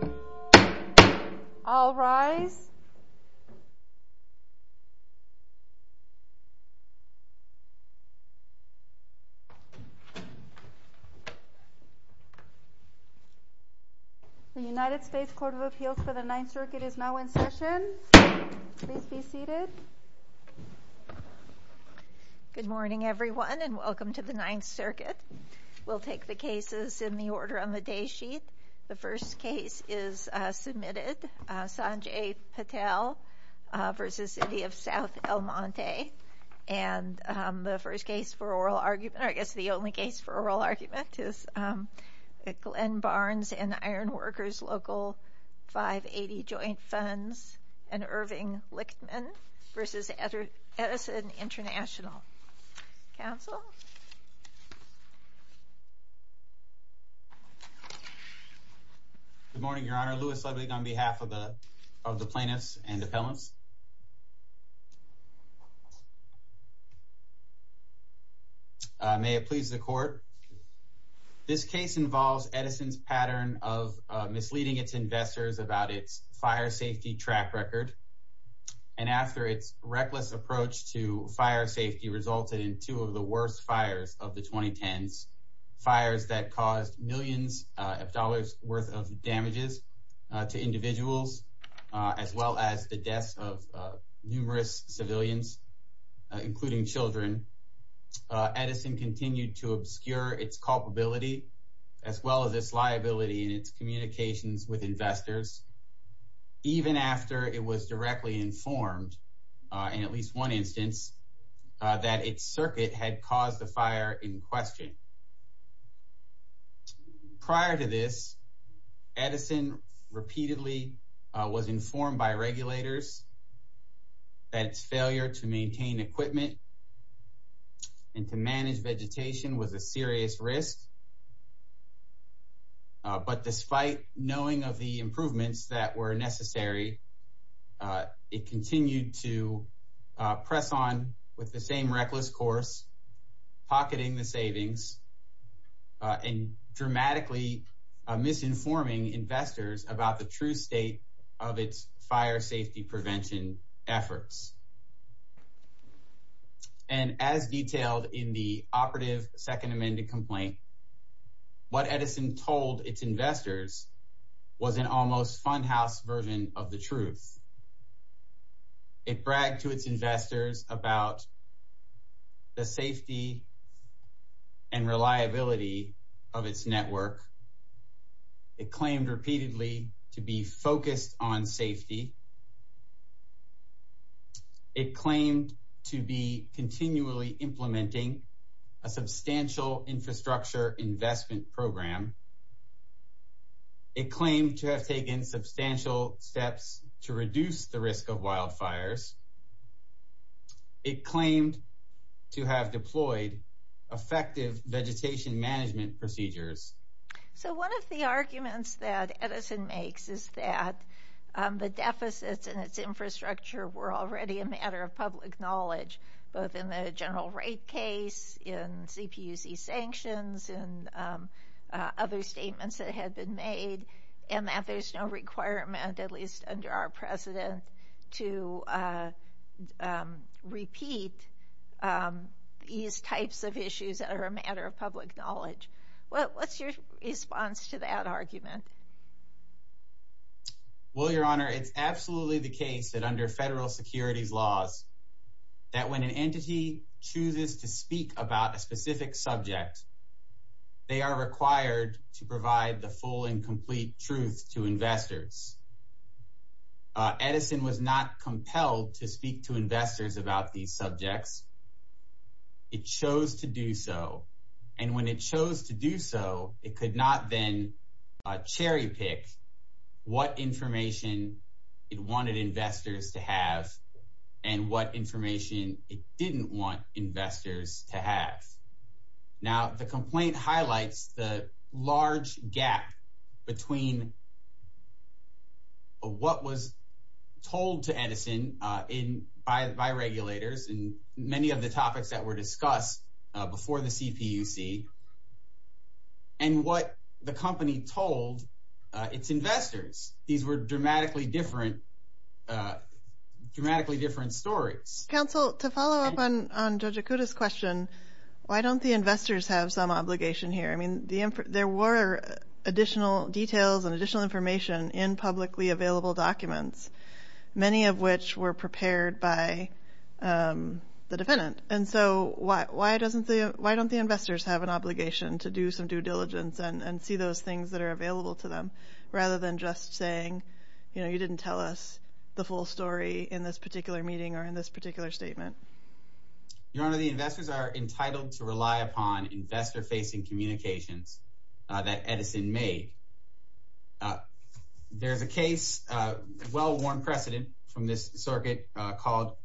The United States Court of Appeals for the Ninth Circuit is now in session. Please be seated. Good morning everyone and welcome to the Ninth Circuit. We'll take the cases in the order on the day sheet. The first case is submitted, Sanjay Patel v. City of South El Monte. And the first case for oral argument, or I guess the only case for oral argument, is Glenn Barnes and Ironworkers Local 580 Joint Funds v. Irving Lichtman v. Edison International. Counsel? Good morning, Your Honor. Louis Ludwig on behalf of the plaintiffs and appellants. May it please the court. This case involves Edison's pattern of misleading its investors about its fire safety track record. And after its reckless approach to fire safety resulted in two of the worst fires of the 2010s, and had caused millions of dollars worth of damages to individuals, as well as the deaths of numerous civilians, including children, Edison continued to obscure its culpability, as well as its liability in its communications with investors, even after it was directly informed, in at least one instance, that its circuit had caused the fire in question. Prior to this, Edison repeatedly was informed by regulators that its failure to maintain equipment and to manage vegetation was a serious risk. But despite knowing of the improvements that were necessary, it continued to press on with the same reckless course, pocketing the savings, and dramatically misinforming investors about the true state of its fire safety prevention efforts. And as detailed in the operative second amended complaint, what Edison told its investors was an almost funhouse version of the truth. It bragged to its investors about the safety and reliability of its network. It claimed repeatedly to be focused on safety. It claimed to be continually implementing a substantial infrastructure investment program. It claimed to have taken substantial steps to reduce the risk of wildfires. It claimed to have deployed effective vegetation management procedures. So one of the arguments that Edison makes is that the deficits in its infrastructure were already a matter of public knowledge, both in the general rate case, in CPUC sanctions, and other statements that had been made, and that there's no requirement, at least under our precedent, to repeat these types of issues that are a matter of public knowledge. What's your response to that argument? Well, Your Honor, it's absolutely the case that under federal securities laws, that when an entity chooses to speak about a specific subject, they are required to provide the full and complete truth to investors. Edison was not compelled to speak to investors about these subjects. It chose to do so. And when it chose to do so, it could not then cherry pick what information it wanted investors to have and what information it didn't want investors to have. Now, the complaint highlights the large gap between what was told to Edison by regulators and many of the topics that were discussed before the CPUC, and what the company told its investors. These were dramatically different stories. Counsel, to follow up on Judge Okuda's question, why don't the investors have some obligation here? I mean, there were additional details and additional information in publicly available documents, many of which were prepared by the defendant. And so why don't the investors have an obligation to do some due diligence and see those things that are available to them, rather than just saying, you know, you didn't tell us the full story in this particular meeting or in this particular statement? Your Honor, the investors are entitled to rely upon investor-facing communications that Edison made. There's a case, well-worn precedent from this circuit, called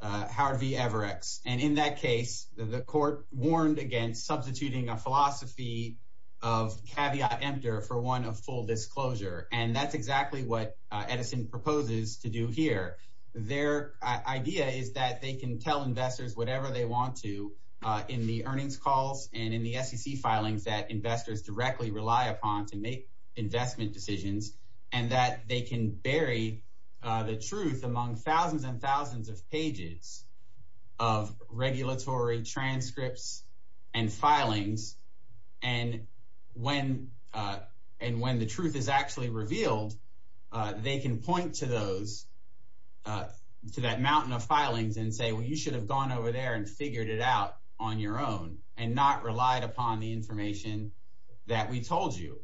Howard v. Everex. And in that case, the court warned against substituting a philosophy of caveat emptor for one of full disclosure. And that's exactly what Edison proposes to do here. Their idea is that they can tell investors whatever they want to in the earnings calls and in the SEC filings that investors directly rely upon to make investment decisions, and that they can bury the truth among thousands and thousands of pages of regulatory transcripts and filings. And when the truth is actually revealed, they can point to that mountain of filings and say, well, you should have gone over there and figured it out on your own and not relied upon the information that we told you.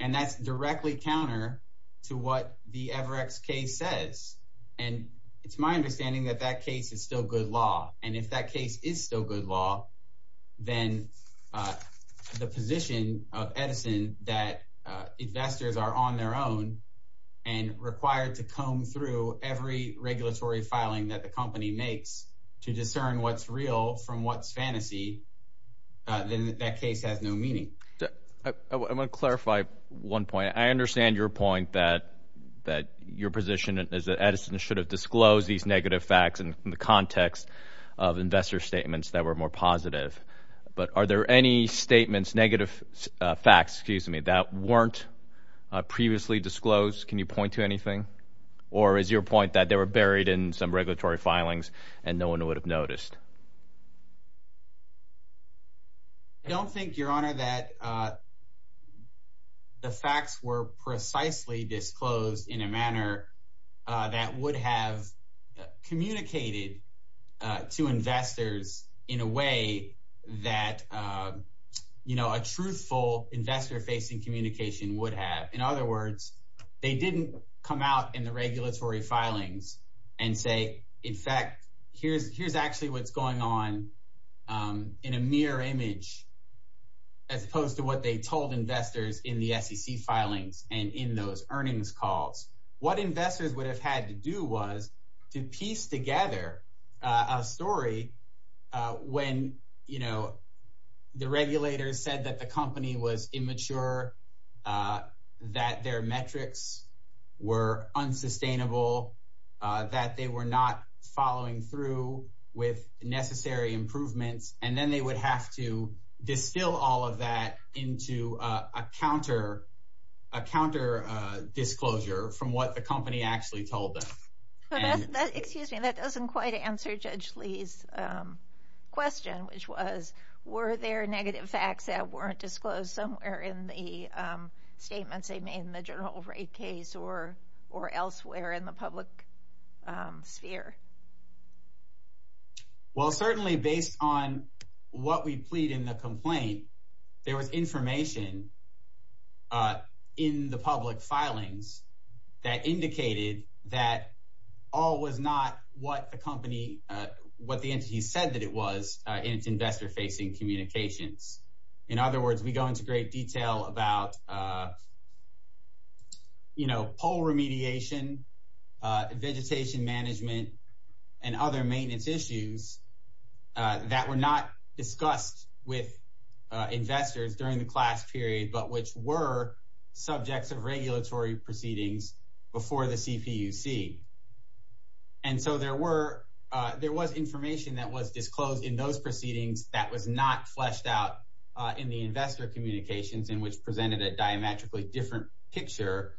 And that's directly counter to what the Everex case says. And it's my understanding that that case is still good law. And if that case is still good law, then the position of Edison that investors are on their own and required to comb through every regulatory filing that the company makes to discern what's real from what's fantasy, then that case has no meaning. I want to clarify one point. I understand your point that your position is that Edison should have disclosed these negative facts in the context of investor statements that were more positive. But are there any statements, negative facts, excuse me, that weren't previously disclosed? Can you point to anything? Or is your point that they were buried in some regulatory filings and no one would have noticed? I don't think, Your Honor, that the facts were precisely disclosed in a manner that would have communicated to investors in a way that a truthful investor-facing communication would have. In other words, they didn't come out in the regulatory filings and say, in fact, here's actually what's going on in a mirror image, as opposed to what they told investors in the SEC filings and in those earnings calls. What investors would have had to do was to piece together a story when the regulators said that the company was immature, that their metrics were unsustainable, that they were not following through with necessary improvements, and then they would have to distill all of that into a counter-disclosure from what the company actually told them. Excuse me, that doesn't quite answer Judge Lee's question, which was, were there negative facts that weren't disclosed somewhere in the statements they made in the general rate case or elsewhere in the public sphere? Well, certainly based on what we plead in the complaint, there was information in the public filings that indicated that all was not what the company, what the entity said that it was in its investor-facing communications. In other words, we go into great detail about poll remediation, vegetation management, and other maintenance issues that were not discussed with investors during the class period, but which were subjects of regulatory proceedings before the CPUC. And so there was information that was disclosed in those proceedings that was not fleshed out in the investor communications in which presented a diametrically different picture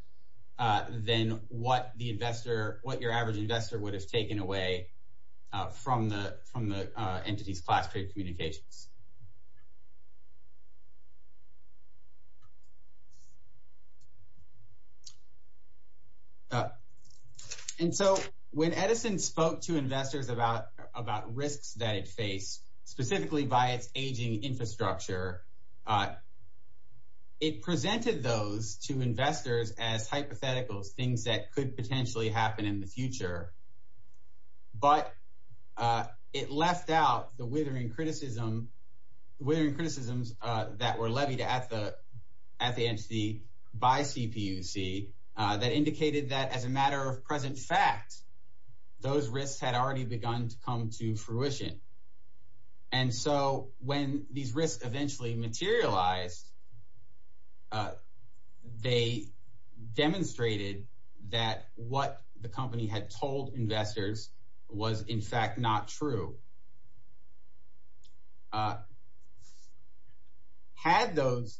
than what the investor, what your average investor would have taken away from the entity's class period communications. And so when Edison spoke to investors about risks that it faced, specifically by its aging infrastructure, it presented those to investors as hypotheticals, things that could potentially happen in the future. But it left out the withering criticism, withering criticisms that were levied at the entity by CPUC that indicated that as a matter of present fact, those risks had already begun to come to fruition. And so when these risks eventually materialized, they demonstrated that what the company had told investors was in fact not true. Had those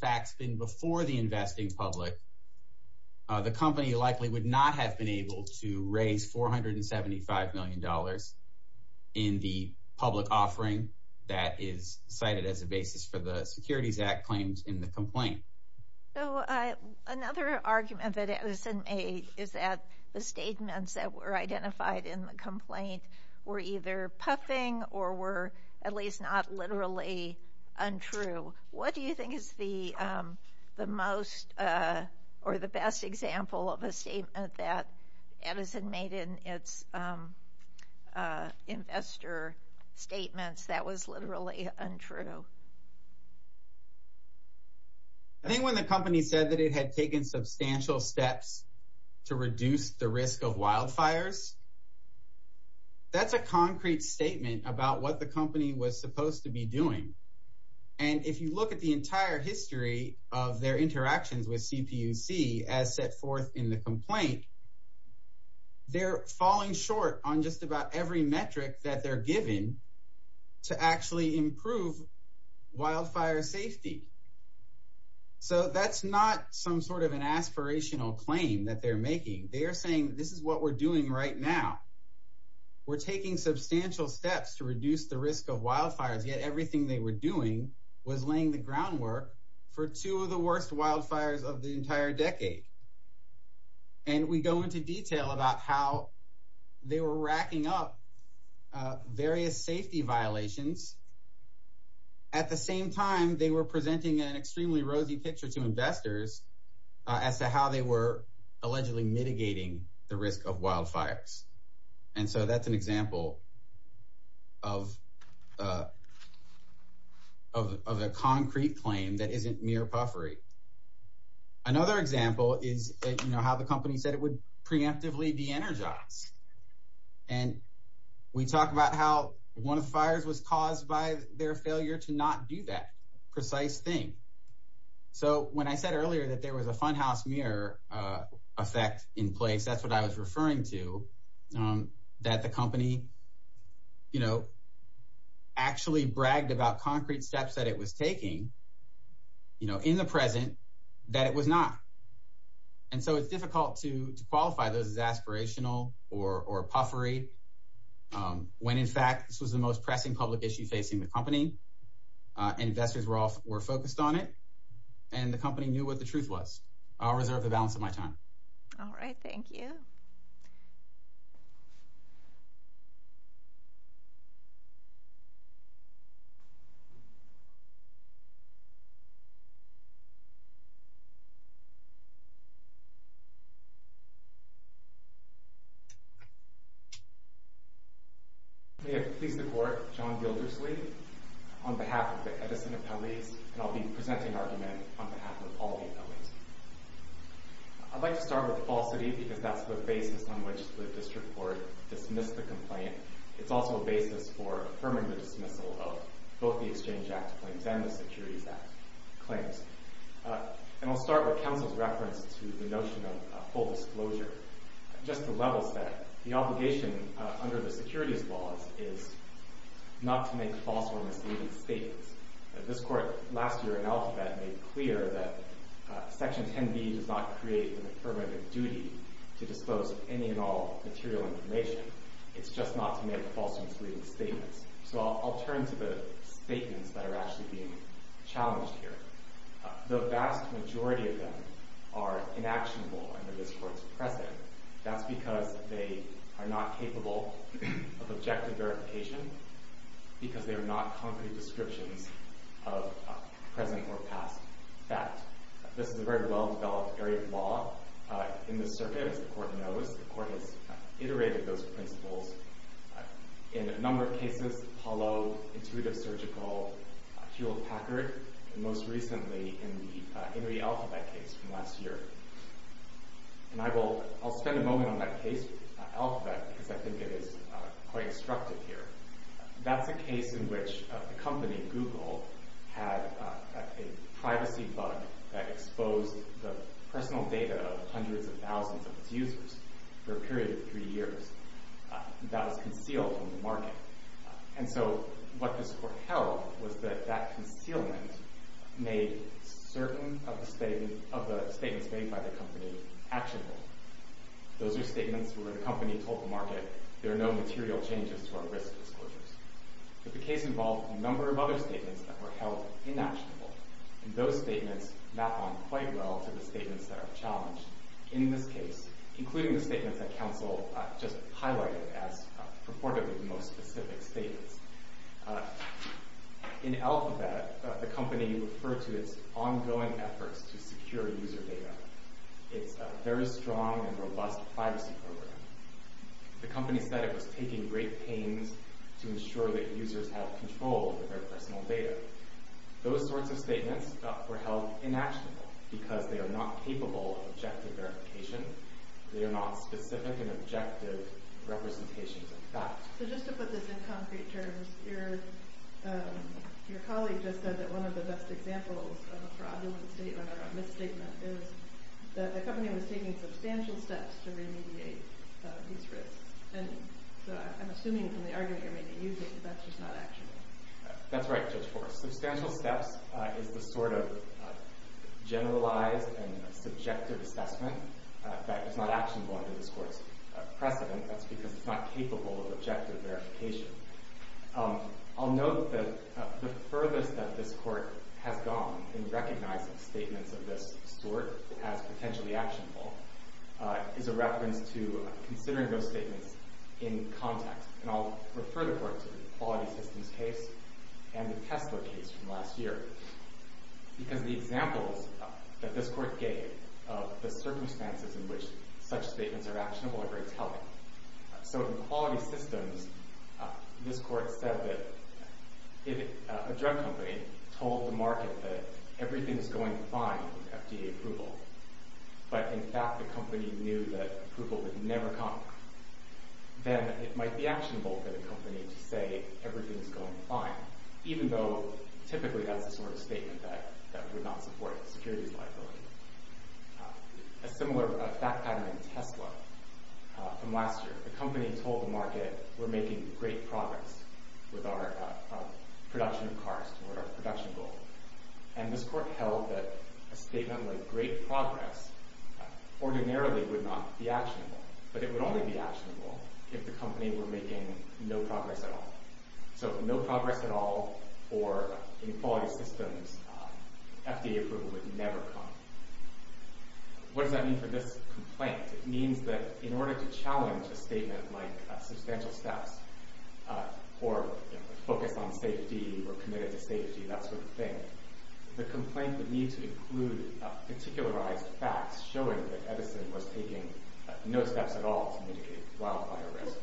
facts been before the investing public, the company likely would not have been able to raise $475 million in the public offering that is cited as a basis for the Securities Act claims in the complaint. Another argument that Edison made is that the statements that were identified in the complaint were either puffing or were at least not literally untrue. What do you think is the most or the best example of a statement that Edison made in its investor statements that was literally untrue? I think when the company said that it had taken substantial steps to reduce the risk of wildfires, that's a concrete statement about what the company was supposed to be doing. And if you look at the entire history of their interactions with CPUC as set forth in the complaint, they're falling short on just about every metric that they're given to actually improve wildfire safety. So that's not some sort of an aspirational claim that they're making. They are saying this is what we're doing right now. We're taking substantial steps to reduce the risk of wildfires, yet everything they were doing was laying the groundwork for two of the worst wildfires of the entire decade. And we go into detail about how they were racking up various safety violations. At the same time, they were presenting an extremely rosy picture to investors as to how they were allegedly mitigating the risk of wildfires. And so that's an example of a concrete claim that isn't mere puffery. Another example is how the company said it would preemptively be energized. And we talk about how one of the fires was caused by their failure to not do that precise thing. So when I said earlier that there was a funhouse mirror effect in place, that's what I was referring to, that the company actually bragged about concrete steps that it was taking in the present that it was not. And so it's difficult to qualify those as aspirational or puffery when, in fact, this was the most pressing public issue facing the company, and investors were focused on it, and the company knew what the truth was. I'll reserve the balance of my time. All right. Thank you. May it please the Court, John Gilderslee, on behalf of the Edison Appellees, and I'll be presenting an argument on behalf of all the appellees. I'd like to start with falsity because that's the basis on which the district court dismissed the complaint. It's also a basis for affirming the dismissal of both the Exchange Act claims and the Securities Act claims. And I'll start with counsel's reference to the notion of full disclosure. Just to level set, the obligation under the securities law is not to make false or misleading statements. This Court, last year in Alphabet, made clear that Section 10b does not create the affirmative duty to dispose of any and all material information. It's just not to make false or misleading statements. So I'll turn to the statements that are actually being challenged here. The vast majority of them are inactionable under this Court's precedent. That's because they are not capable of objective verification because they are not concrete descriptions of present or past fact. This is a very well-developed area of law. In this circuit, as the Court knows, the Court has iterated those principles in a number of cases, Apollo, Intuitive Surgical, Hewlett-Packard, and most recently in the Henry Alphabet case from last year. And I'll spend a moment on that case, Alphabet, because I think it is quite instructive here. That's a case in which a company, Google, had a privacy bug that exposed the personal data of hundreds of thousands of its users for a period of three years. That was concealed from the market. And so what this Court held was that that concealment made certain of the statements made by the company actionable. Those are statements where the company told the market there are no material changes to our risk disclosures. But the case involved a number of other statements that were held inactionable. And those statements map on quite well to the statements that are challenged in this case, including the statements that counsel just highlighted as purportedly the most specific statements. In Alphabet, the company referred to its ongoing efforts to secure user data. It's a very strong and robust privacy program. The company said it was taking great pains to ensure that users have control of their personal data. Those sorts of statements were held inactionable because they are not capable of objective verification. They are not specific and objective representations of facts. So just to put this in concrete terms, your colleague just said that one of the best examples of a fraudulent statement or a misstatement is that the company was taking substantial steps to remediate these risks. And so I'm assuming from the argument you're making, you think that's just not actionable. That's right, Judge Forrest. Substantial steps is the sort of generalized and subjective assessment that is not actionable under this Court's precedent. That's because it's not capable of objective verification. I'll note that the furthest that this Court has gone in recognizing statements of this sort as potentially actionable is a reference to considering those statements in context. And I'll refer the Court to the Quality Systems case and the Tesla case from last year. Because the examples that this Court gave of the circumstances in which such statements are actionable are very telling. So in Quality Systems, this Court said that if a drug company told the market that everything is going fine with FDA approval, but in fact the company knew that approval would never come, then it might be actionable for the company to say everything is going fine, even though typically that's the sort of statement that would not support securities liability. A similar fact pattern in Tesla from last year. The company told the market, we're making great progress with our production of cars toward our production goal. And this Court held that a statement like great progress ordinarily would not be actionable. But it would only be actionable if the company were making no progress at all. So no progress at all for in Quality Systems, FDA approval would never come. What does that mean for this complaint? It means that in order to challenge a statement like substantial steps or focus on safety or committed to safety, that sort of thing, the complaint would need to include particularized facts showing that Edison was taking no steps at all to mitigate wildfire risk.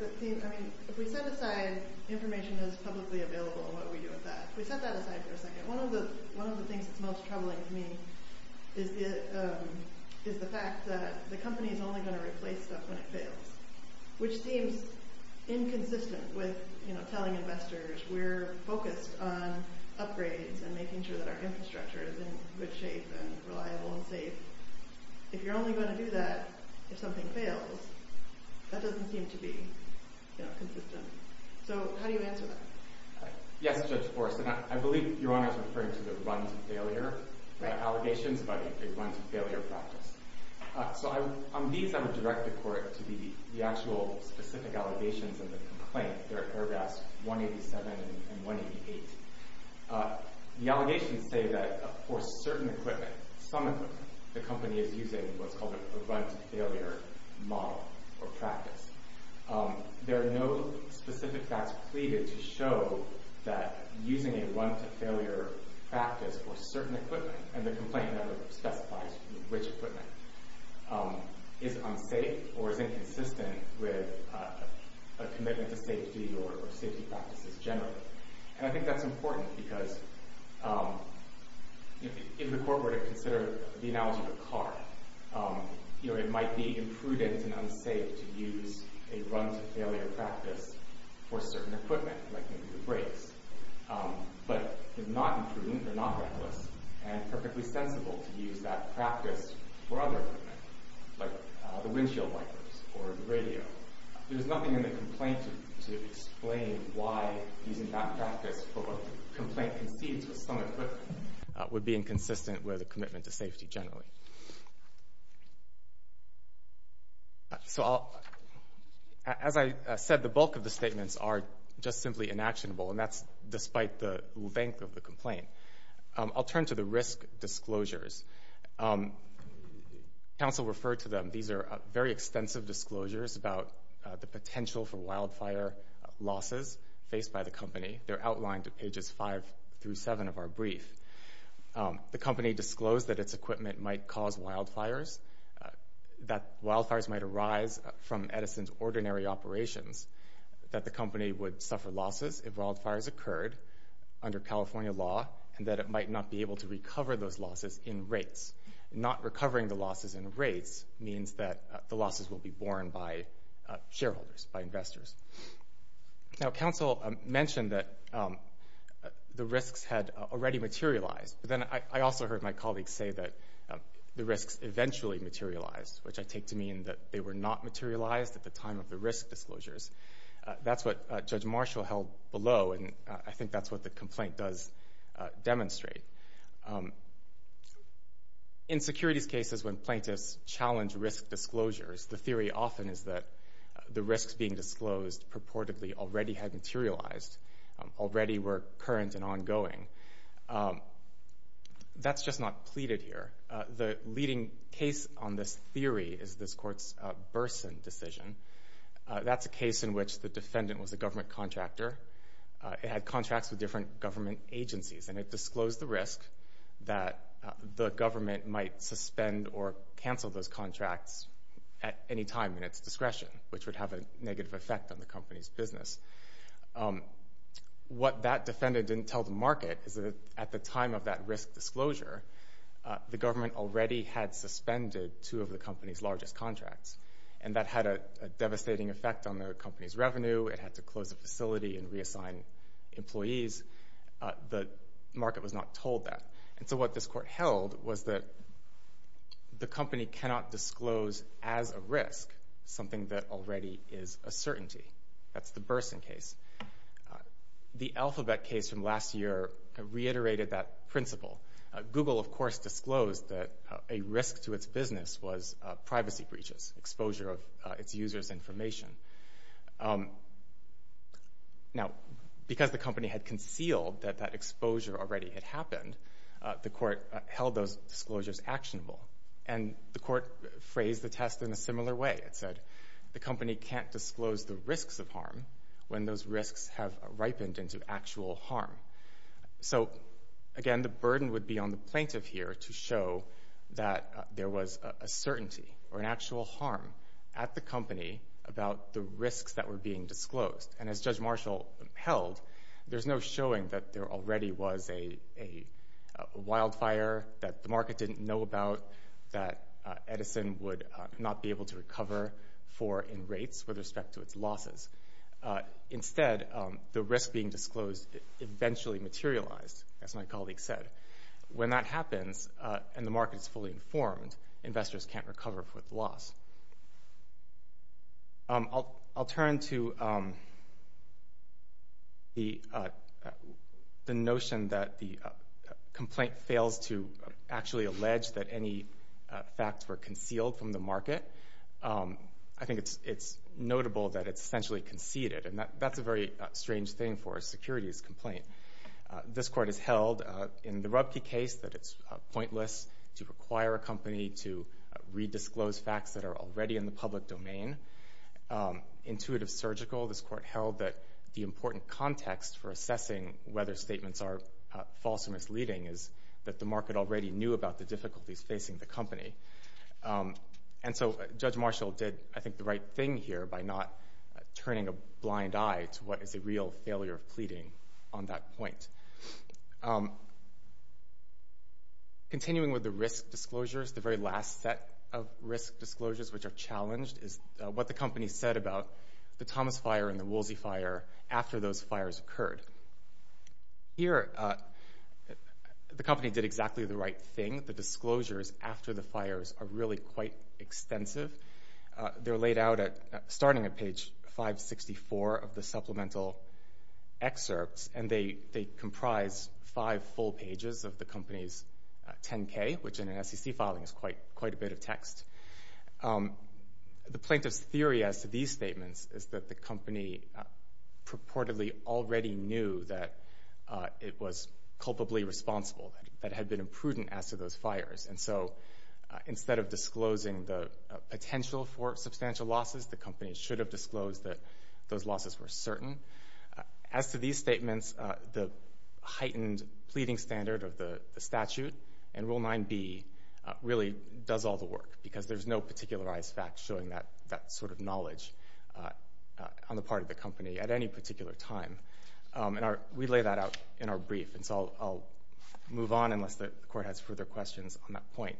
If we set aside information that is publicly available and what we do with that, if we set that aside for a second, one of the things that's most troubling to me is the fact that the company is only going to replace stuff when it fails, which seems inconsistent with telling investors we're focused on upgrades and making sure that our infrastructure is in good shape and reliable and safe. If you're only going to do that if something fails, that doesn't seem to be consistent. So how do you answer that? Yes, Judge Forrest, and I believe Your Honor is referring to the run to failure allegations by the run to failure practice. So on these, I would direct the Court to the actual specific allegations of the complaint. They're at Airgas 187 and 188. The allegations say that for certain equipment, some equipment, the company is using what's called a run to failure model or practice. There are no specific facts pleaded to show that using a run to failure practice for certain equipment and the complaint never specifies which equipment is unsafe or is inconsistent with a commitment to safety or safety practices generally. And I think that's important because if the Court were to consider the analogy of a car, it might be imprudent and unsafe to use a run to failure practice for certain equipment, like maybe the brakes. But it's not imprudent or not reckless and perfectly sensible to use that practice for other equipment, like the windshield wipers or the radio. There's nothing in the complaint to explain why using that practice for what the complaint concedes for some equipment would be inconsistent with a commitment to safety generally. So as I said, the bulk of the statements are just simply inactionable, I'll turn to the risk disclosures. Counsel referred to them. These are very extensive disclosures about the potential for wildfire losses faced by the company. They're outlined at pages 5 through 7 of our brief. The company disclosed that its equipment might cause wildfires, that wildfires might arise from Edison's ordinary operations, that the company would suffer losses if wildfires occurred under California law, and that it might not be able to recover those losses in rates. Not recovering the losses in rates means that the losses will be borne by shareholders, by investors. Now, counsel mentioned that the risks had already materialized, but then I also heard my colleagues say that the risks eventually materialized, which I take to mean that they were not materialized at the time of the risk disclosures. That's what Judge Marshall held below, and I think that's what the complaint does demonstrate. In securities cases when plaintiffs challenge risk disclosures, the theory often is that the risks being disclosed purportedly already had materialized, already were current and ongoing. That's just not pleaded here. The leading case on this theory is this Court's Burson decision. That's a case in which the defendant was a government contractor. It had contracts with different government agencies, and it disclosed the risk that the government might suspend or cancel those contracts at any time in its discretion, which would have a negative effect on the company's business. What that defendant didn't tell the market is that at the time of that risk disclosure, the government already had suspended two of the company's largest contracts, and that had a devastating effect on the company's revenue. It had to close the facility and reassign employees. The market was not told that, and so what this Court held was that the company cannot disclose as a risk something that already is a certainty. That's the Burson case. The Alphabet case from last year reiterated that principle. Google, of course, disclosed that a risk to its business was privacy breaches, exposure of its users' information. Now, because the company had concealed that that exposure already had happened, the Court held those disclosures actionable, and the Court phrased the test in a similar way. It said the company can't disclose the risks of harm when those risks have ripened into actual harm. So, again, the burden would be on the plaintiff here to show that there was a certainty or an actual harm at the company about the risks that were being disclosed. And as Judge Marshall held, there's no showing that there already was a wildfire that the market didn't know about that Edison would not be able to recover for in rates with respect to its losses. Instead, the risk being disclosed eventually materialized, as my colleague said. When that happens and the market is fully informed, investors can't recover for the loss. I'll turn to the notion that the complaint fails to actually allege that any facts were concealed from the market. I think it's notable that it's essentially conceded, and that's a very strange thing for a securities complaint. This Court has held in the Rubke case that it's pointless to require a company to redisclose facts that are already in the public domain. Intuitive Surgical, this Court held that the important context for assessing whether statements are false or misleading is that the market already knew about the difficulties facing the company. And so Judge Marshall did, I think, the right thing here by not turning a blind eye to what is a real failure of pleading on that point. Continuing with the risk disclosures, the very last set of risk disclosures, which are challenged, is what the company said about the Thomas fire and the Woolsey fire after those fires occurred. Here, the company did exactly the right thing. The disclosures after the fires are really quite extensive. They're laid out starting at page 564 of the supplemental excerpts, and they comprise five full pages of the company's 10-K, which in an SEC filing is quite a bit of text. The plaintiff's theory as to these statements is that the company purportedly already knew that it was culpably responsible, that it had been imprudent as to those fires. And so instead of disclosing the potential for substantial losses, the company should have disclosed that those losses were certain. As to these statements, the heightened pleading standard of the statute and Rule 9b really does all the work because there's no particularized fact showing that sort of knowledge on the part of the company at any particular time. We lay that out in our brief, and so I'll move on unless the Court has further questions on that point.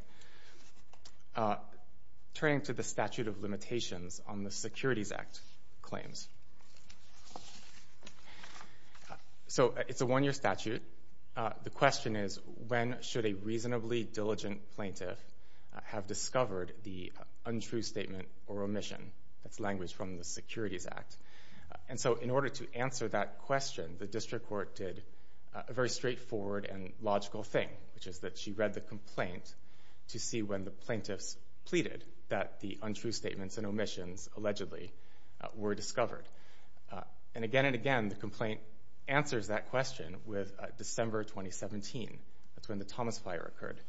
Turning to the statute of limitations on the Securities Act claims. So it's a one-year statute. The question is, when should a reasonably diligent plaintiff have discovered the untrue statement or omission? That's language from the Securities Act. And so in order to answer that question, the district court did a very straightforward and logical thing, which is that she read the complaint to see when the plaintiffs pleaded that the untrue statements and omissions allegedly were discovered. And again and again, the complaint answers that question with December 2017. That's when the Thomas fire occurred.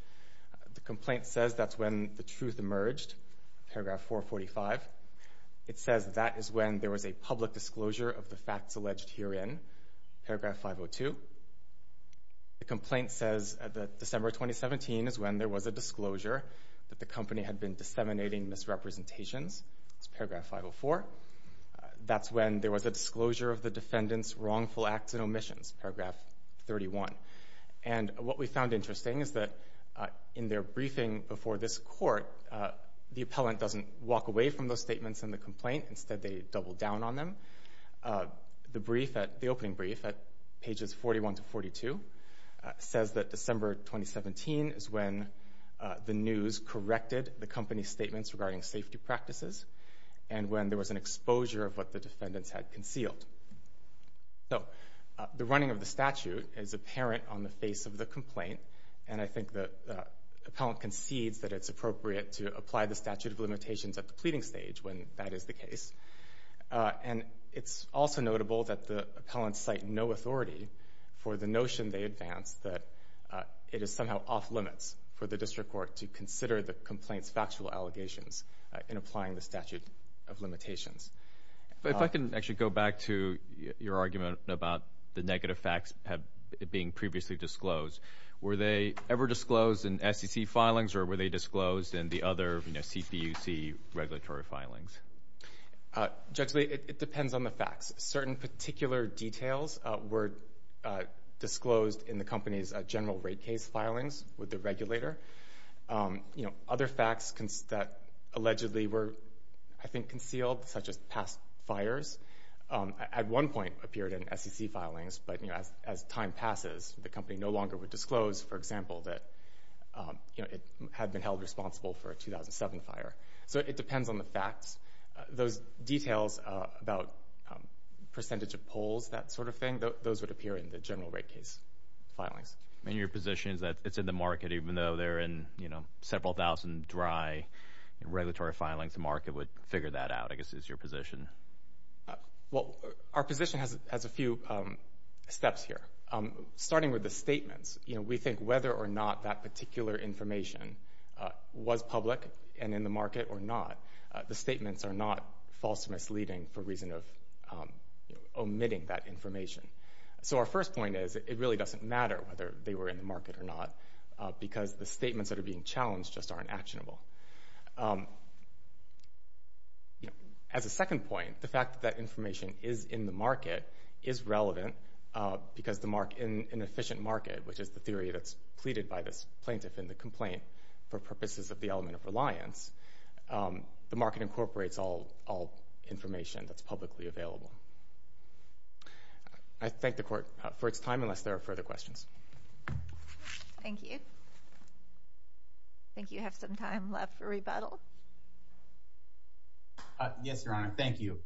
The complaint says that's when the truth emerged, paragraph 445. It says that is when there was a public disclosure of the facts alleged herein, paragraph 502. The complaint says that December 2017 is when there was a disclosure that the company had been disseminating misrepresentations. It's paragraph 504. That's when there was a disclosure of the defendant's wrongful acts and omissions, paragraph 31. And what we found interesting is that in their briefing before this court, the appellant doesn't walk away from those statements in the complaint. Instead, they double down on them. The opening brief at pages 41 to 42 says that December 2017 is when the news corrected the company's statements regarding safety practices and when there was an exposure of what the defendants had concealed. So the running of the statute is apparent on the face of the complaint, and I think the appellant concedes that it's appropriate to apply the statute of limitations at the pleading stage when that is the case. And it's also notable that the appellants cite no authority for the notion they advance that it is somehow off-limits for the district court to consider the complaint's factual allegations in applying the statute of limitations. If I can actually go back to your argument about the negative facts being previously disclosed, were they ever disclosed in SEC filings or were they disclosed in the other CPUC regulatory filings? Judge Lee, it depends on the facts. Certain particular details were disclosed in the company's general rate case filings with the regulator. Other facts that allegedly were, I think, concealed, such as past fires, at one point appeared in SEC filings, but as time passes, the company no longer would disclose, for example, that it had been held responsible for a 2007 fire. So it depends on the facts. Those details about percentage of polls, that sort of thing, those would appear in the general rate case filings. And your position is that it's in the market, even though they're in several thousand dry regulatory filings, the market would figure that out, I guess, is your position. Well, our position has a few steps here. Starting with the statements, we think whether or not that particular information was public and in the market or not, the statements are not false or misleading for reason of omitting that information. So our first point is it really doesn't matter whether they were in the market or not because the statements that are being challenged just aren't actionable. As a second point, the fact that that information is in the market is relevant because in an efficient market, which is the theory that's pleaded by this plaintiff in the complaint for purposes of the element of reliance, the market incorporates all information that's publicly available. I thank the Court for its time unless there are further questions. Thank you. I think you have some time left for rebuttal. Yes, Your Honor. Thank you.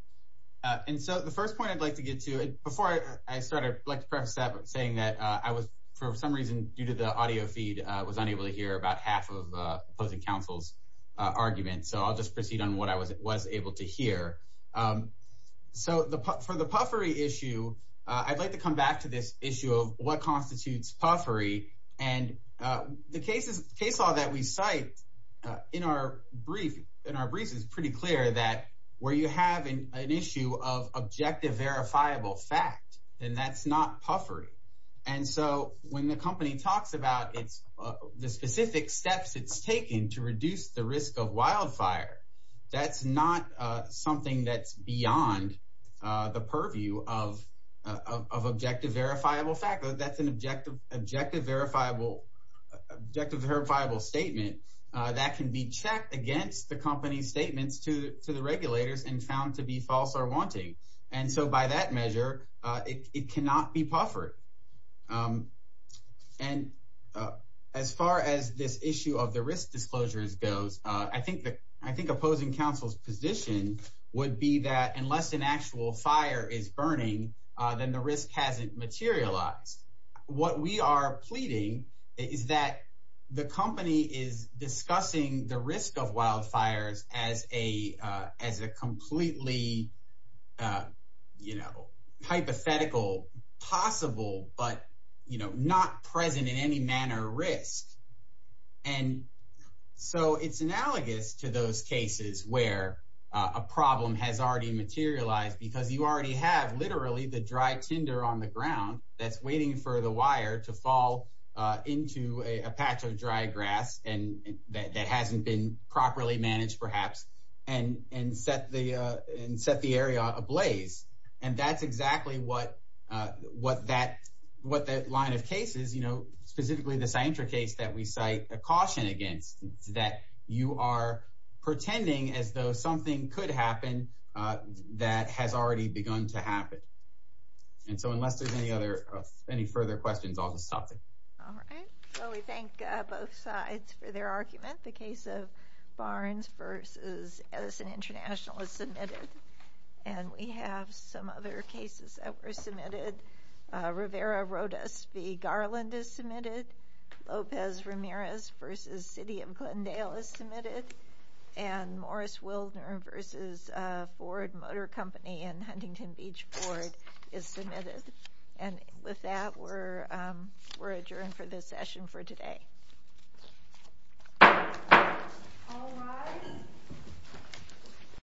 And so the first point I'd like to get to, and before I start, I'd like to preface that by saying that I was, for some reason due to the audio feed, was unable to hear about half of opposing counsel's argument. So I'll just proceed on what I was able to hear. So for the puffery issue, I'd like to come back to this issue of what constitutes puffery and the case law that we cite in our brief is pretty clear that where you have an issue of objective verifiable fact, then that's not puffery. And so when the company talks about the specific steps it's taken to reduce the risk of wildfire, that's not something that's beyond the purview of objective verifiable fact. That's an objective verifiable statement that can be checked against the company's statements to the regulators and found to be false or wanting. And so by that measure, it cannot be puffered. And as far as this issue of the risk disclosures goes, I think opposing counsel's position would be that unless an actual fire is burning, then the risk hasn't materialized. What we are pleading is that the company is discussing the risk of wildfires as a completely hypothetical, possible, but not present in any manner risk. And so it's analogous to those cases where a problem has already materialized because you already have literally the dry tinder on the ground that's waiting for the wire to fall into a patch of dry grass that hasn't been properly managed perhaps and set the area ablaze. And that's exactly what that line of cases, specifically the Cientra case that we cite a caution against, that you are pretending as though something could happen that has already begun to happen. And so unless there's any further questions, I'll just stop there. All right. Well, we thank both sides for their argument. The case of Barnes v. Edison International is submitted. And we have some other cases that were submitted. Rivera-Rhodes v. Garland is submitted. Lopez-Ramirez v. City of Glendale is submitted. And Morris-Wildner v. Ford Motor Company and Huntington Beach Ford is submitted. And with that, we're adjourned for this session for today. All rise.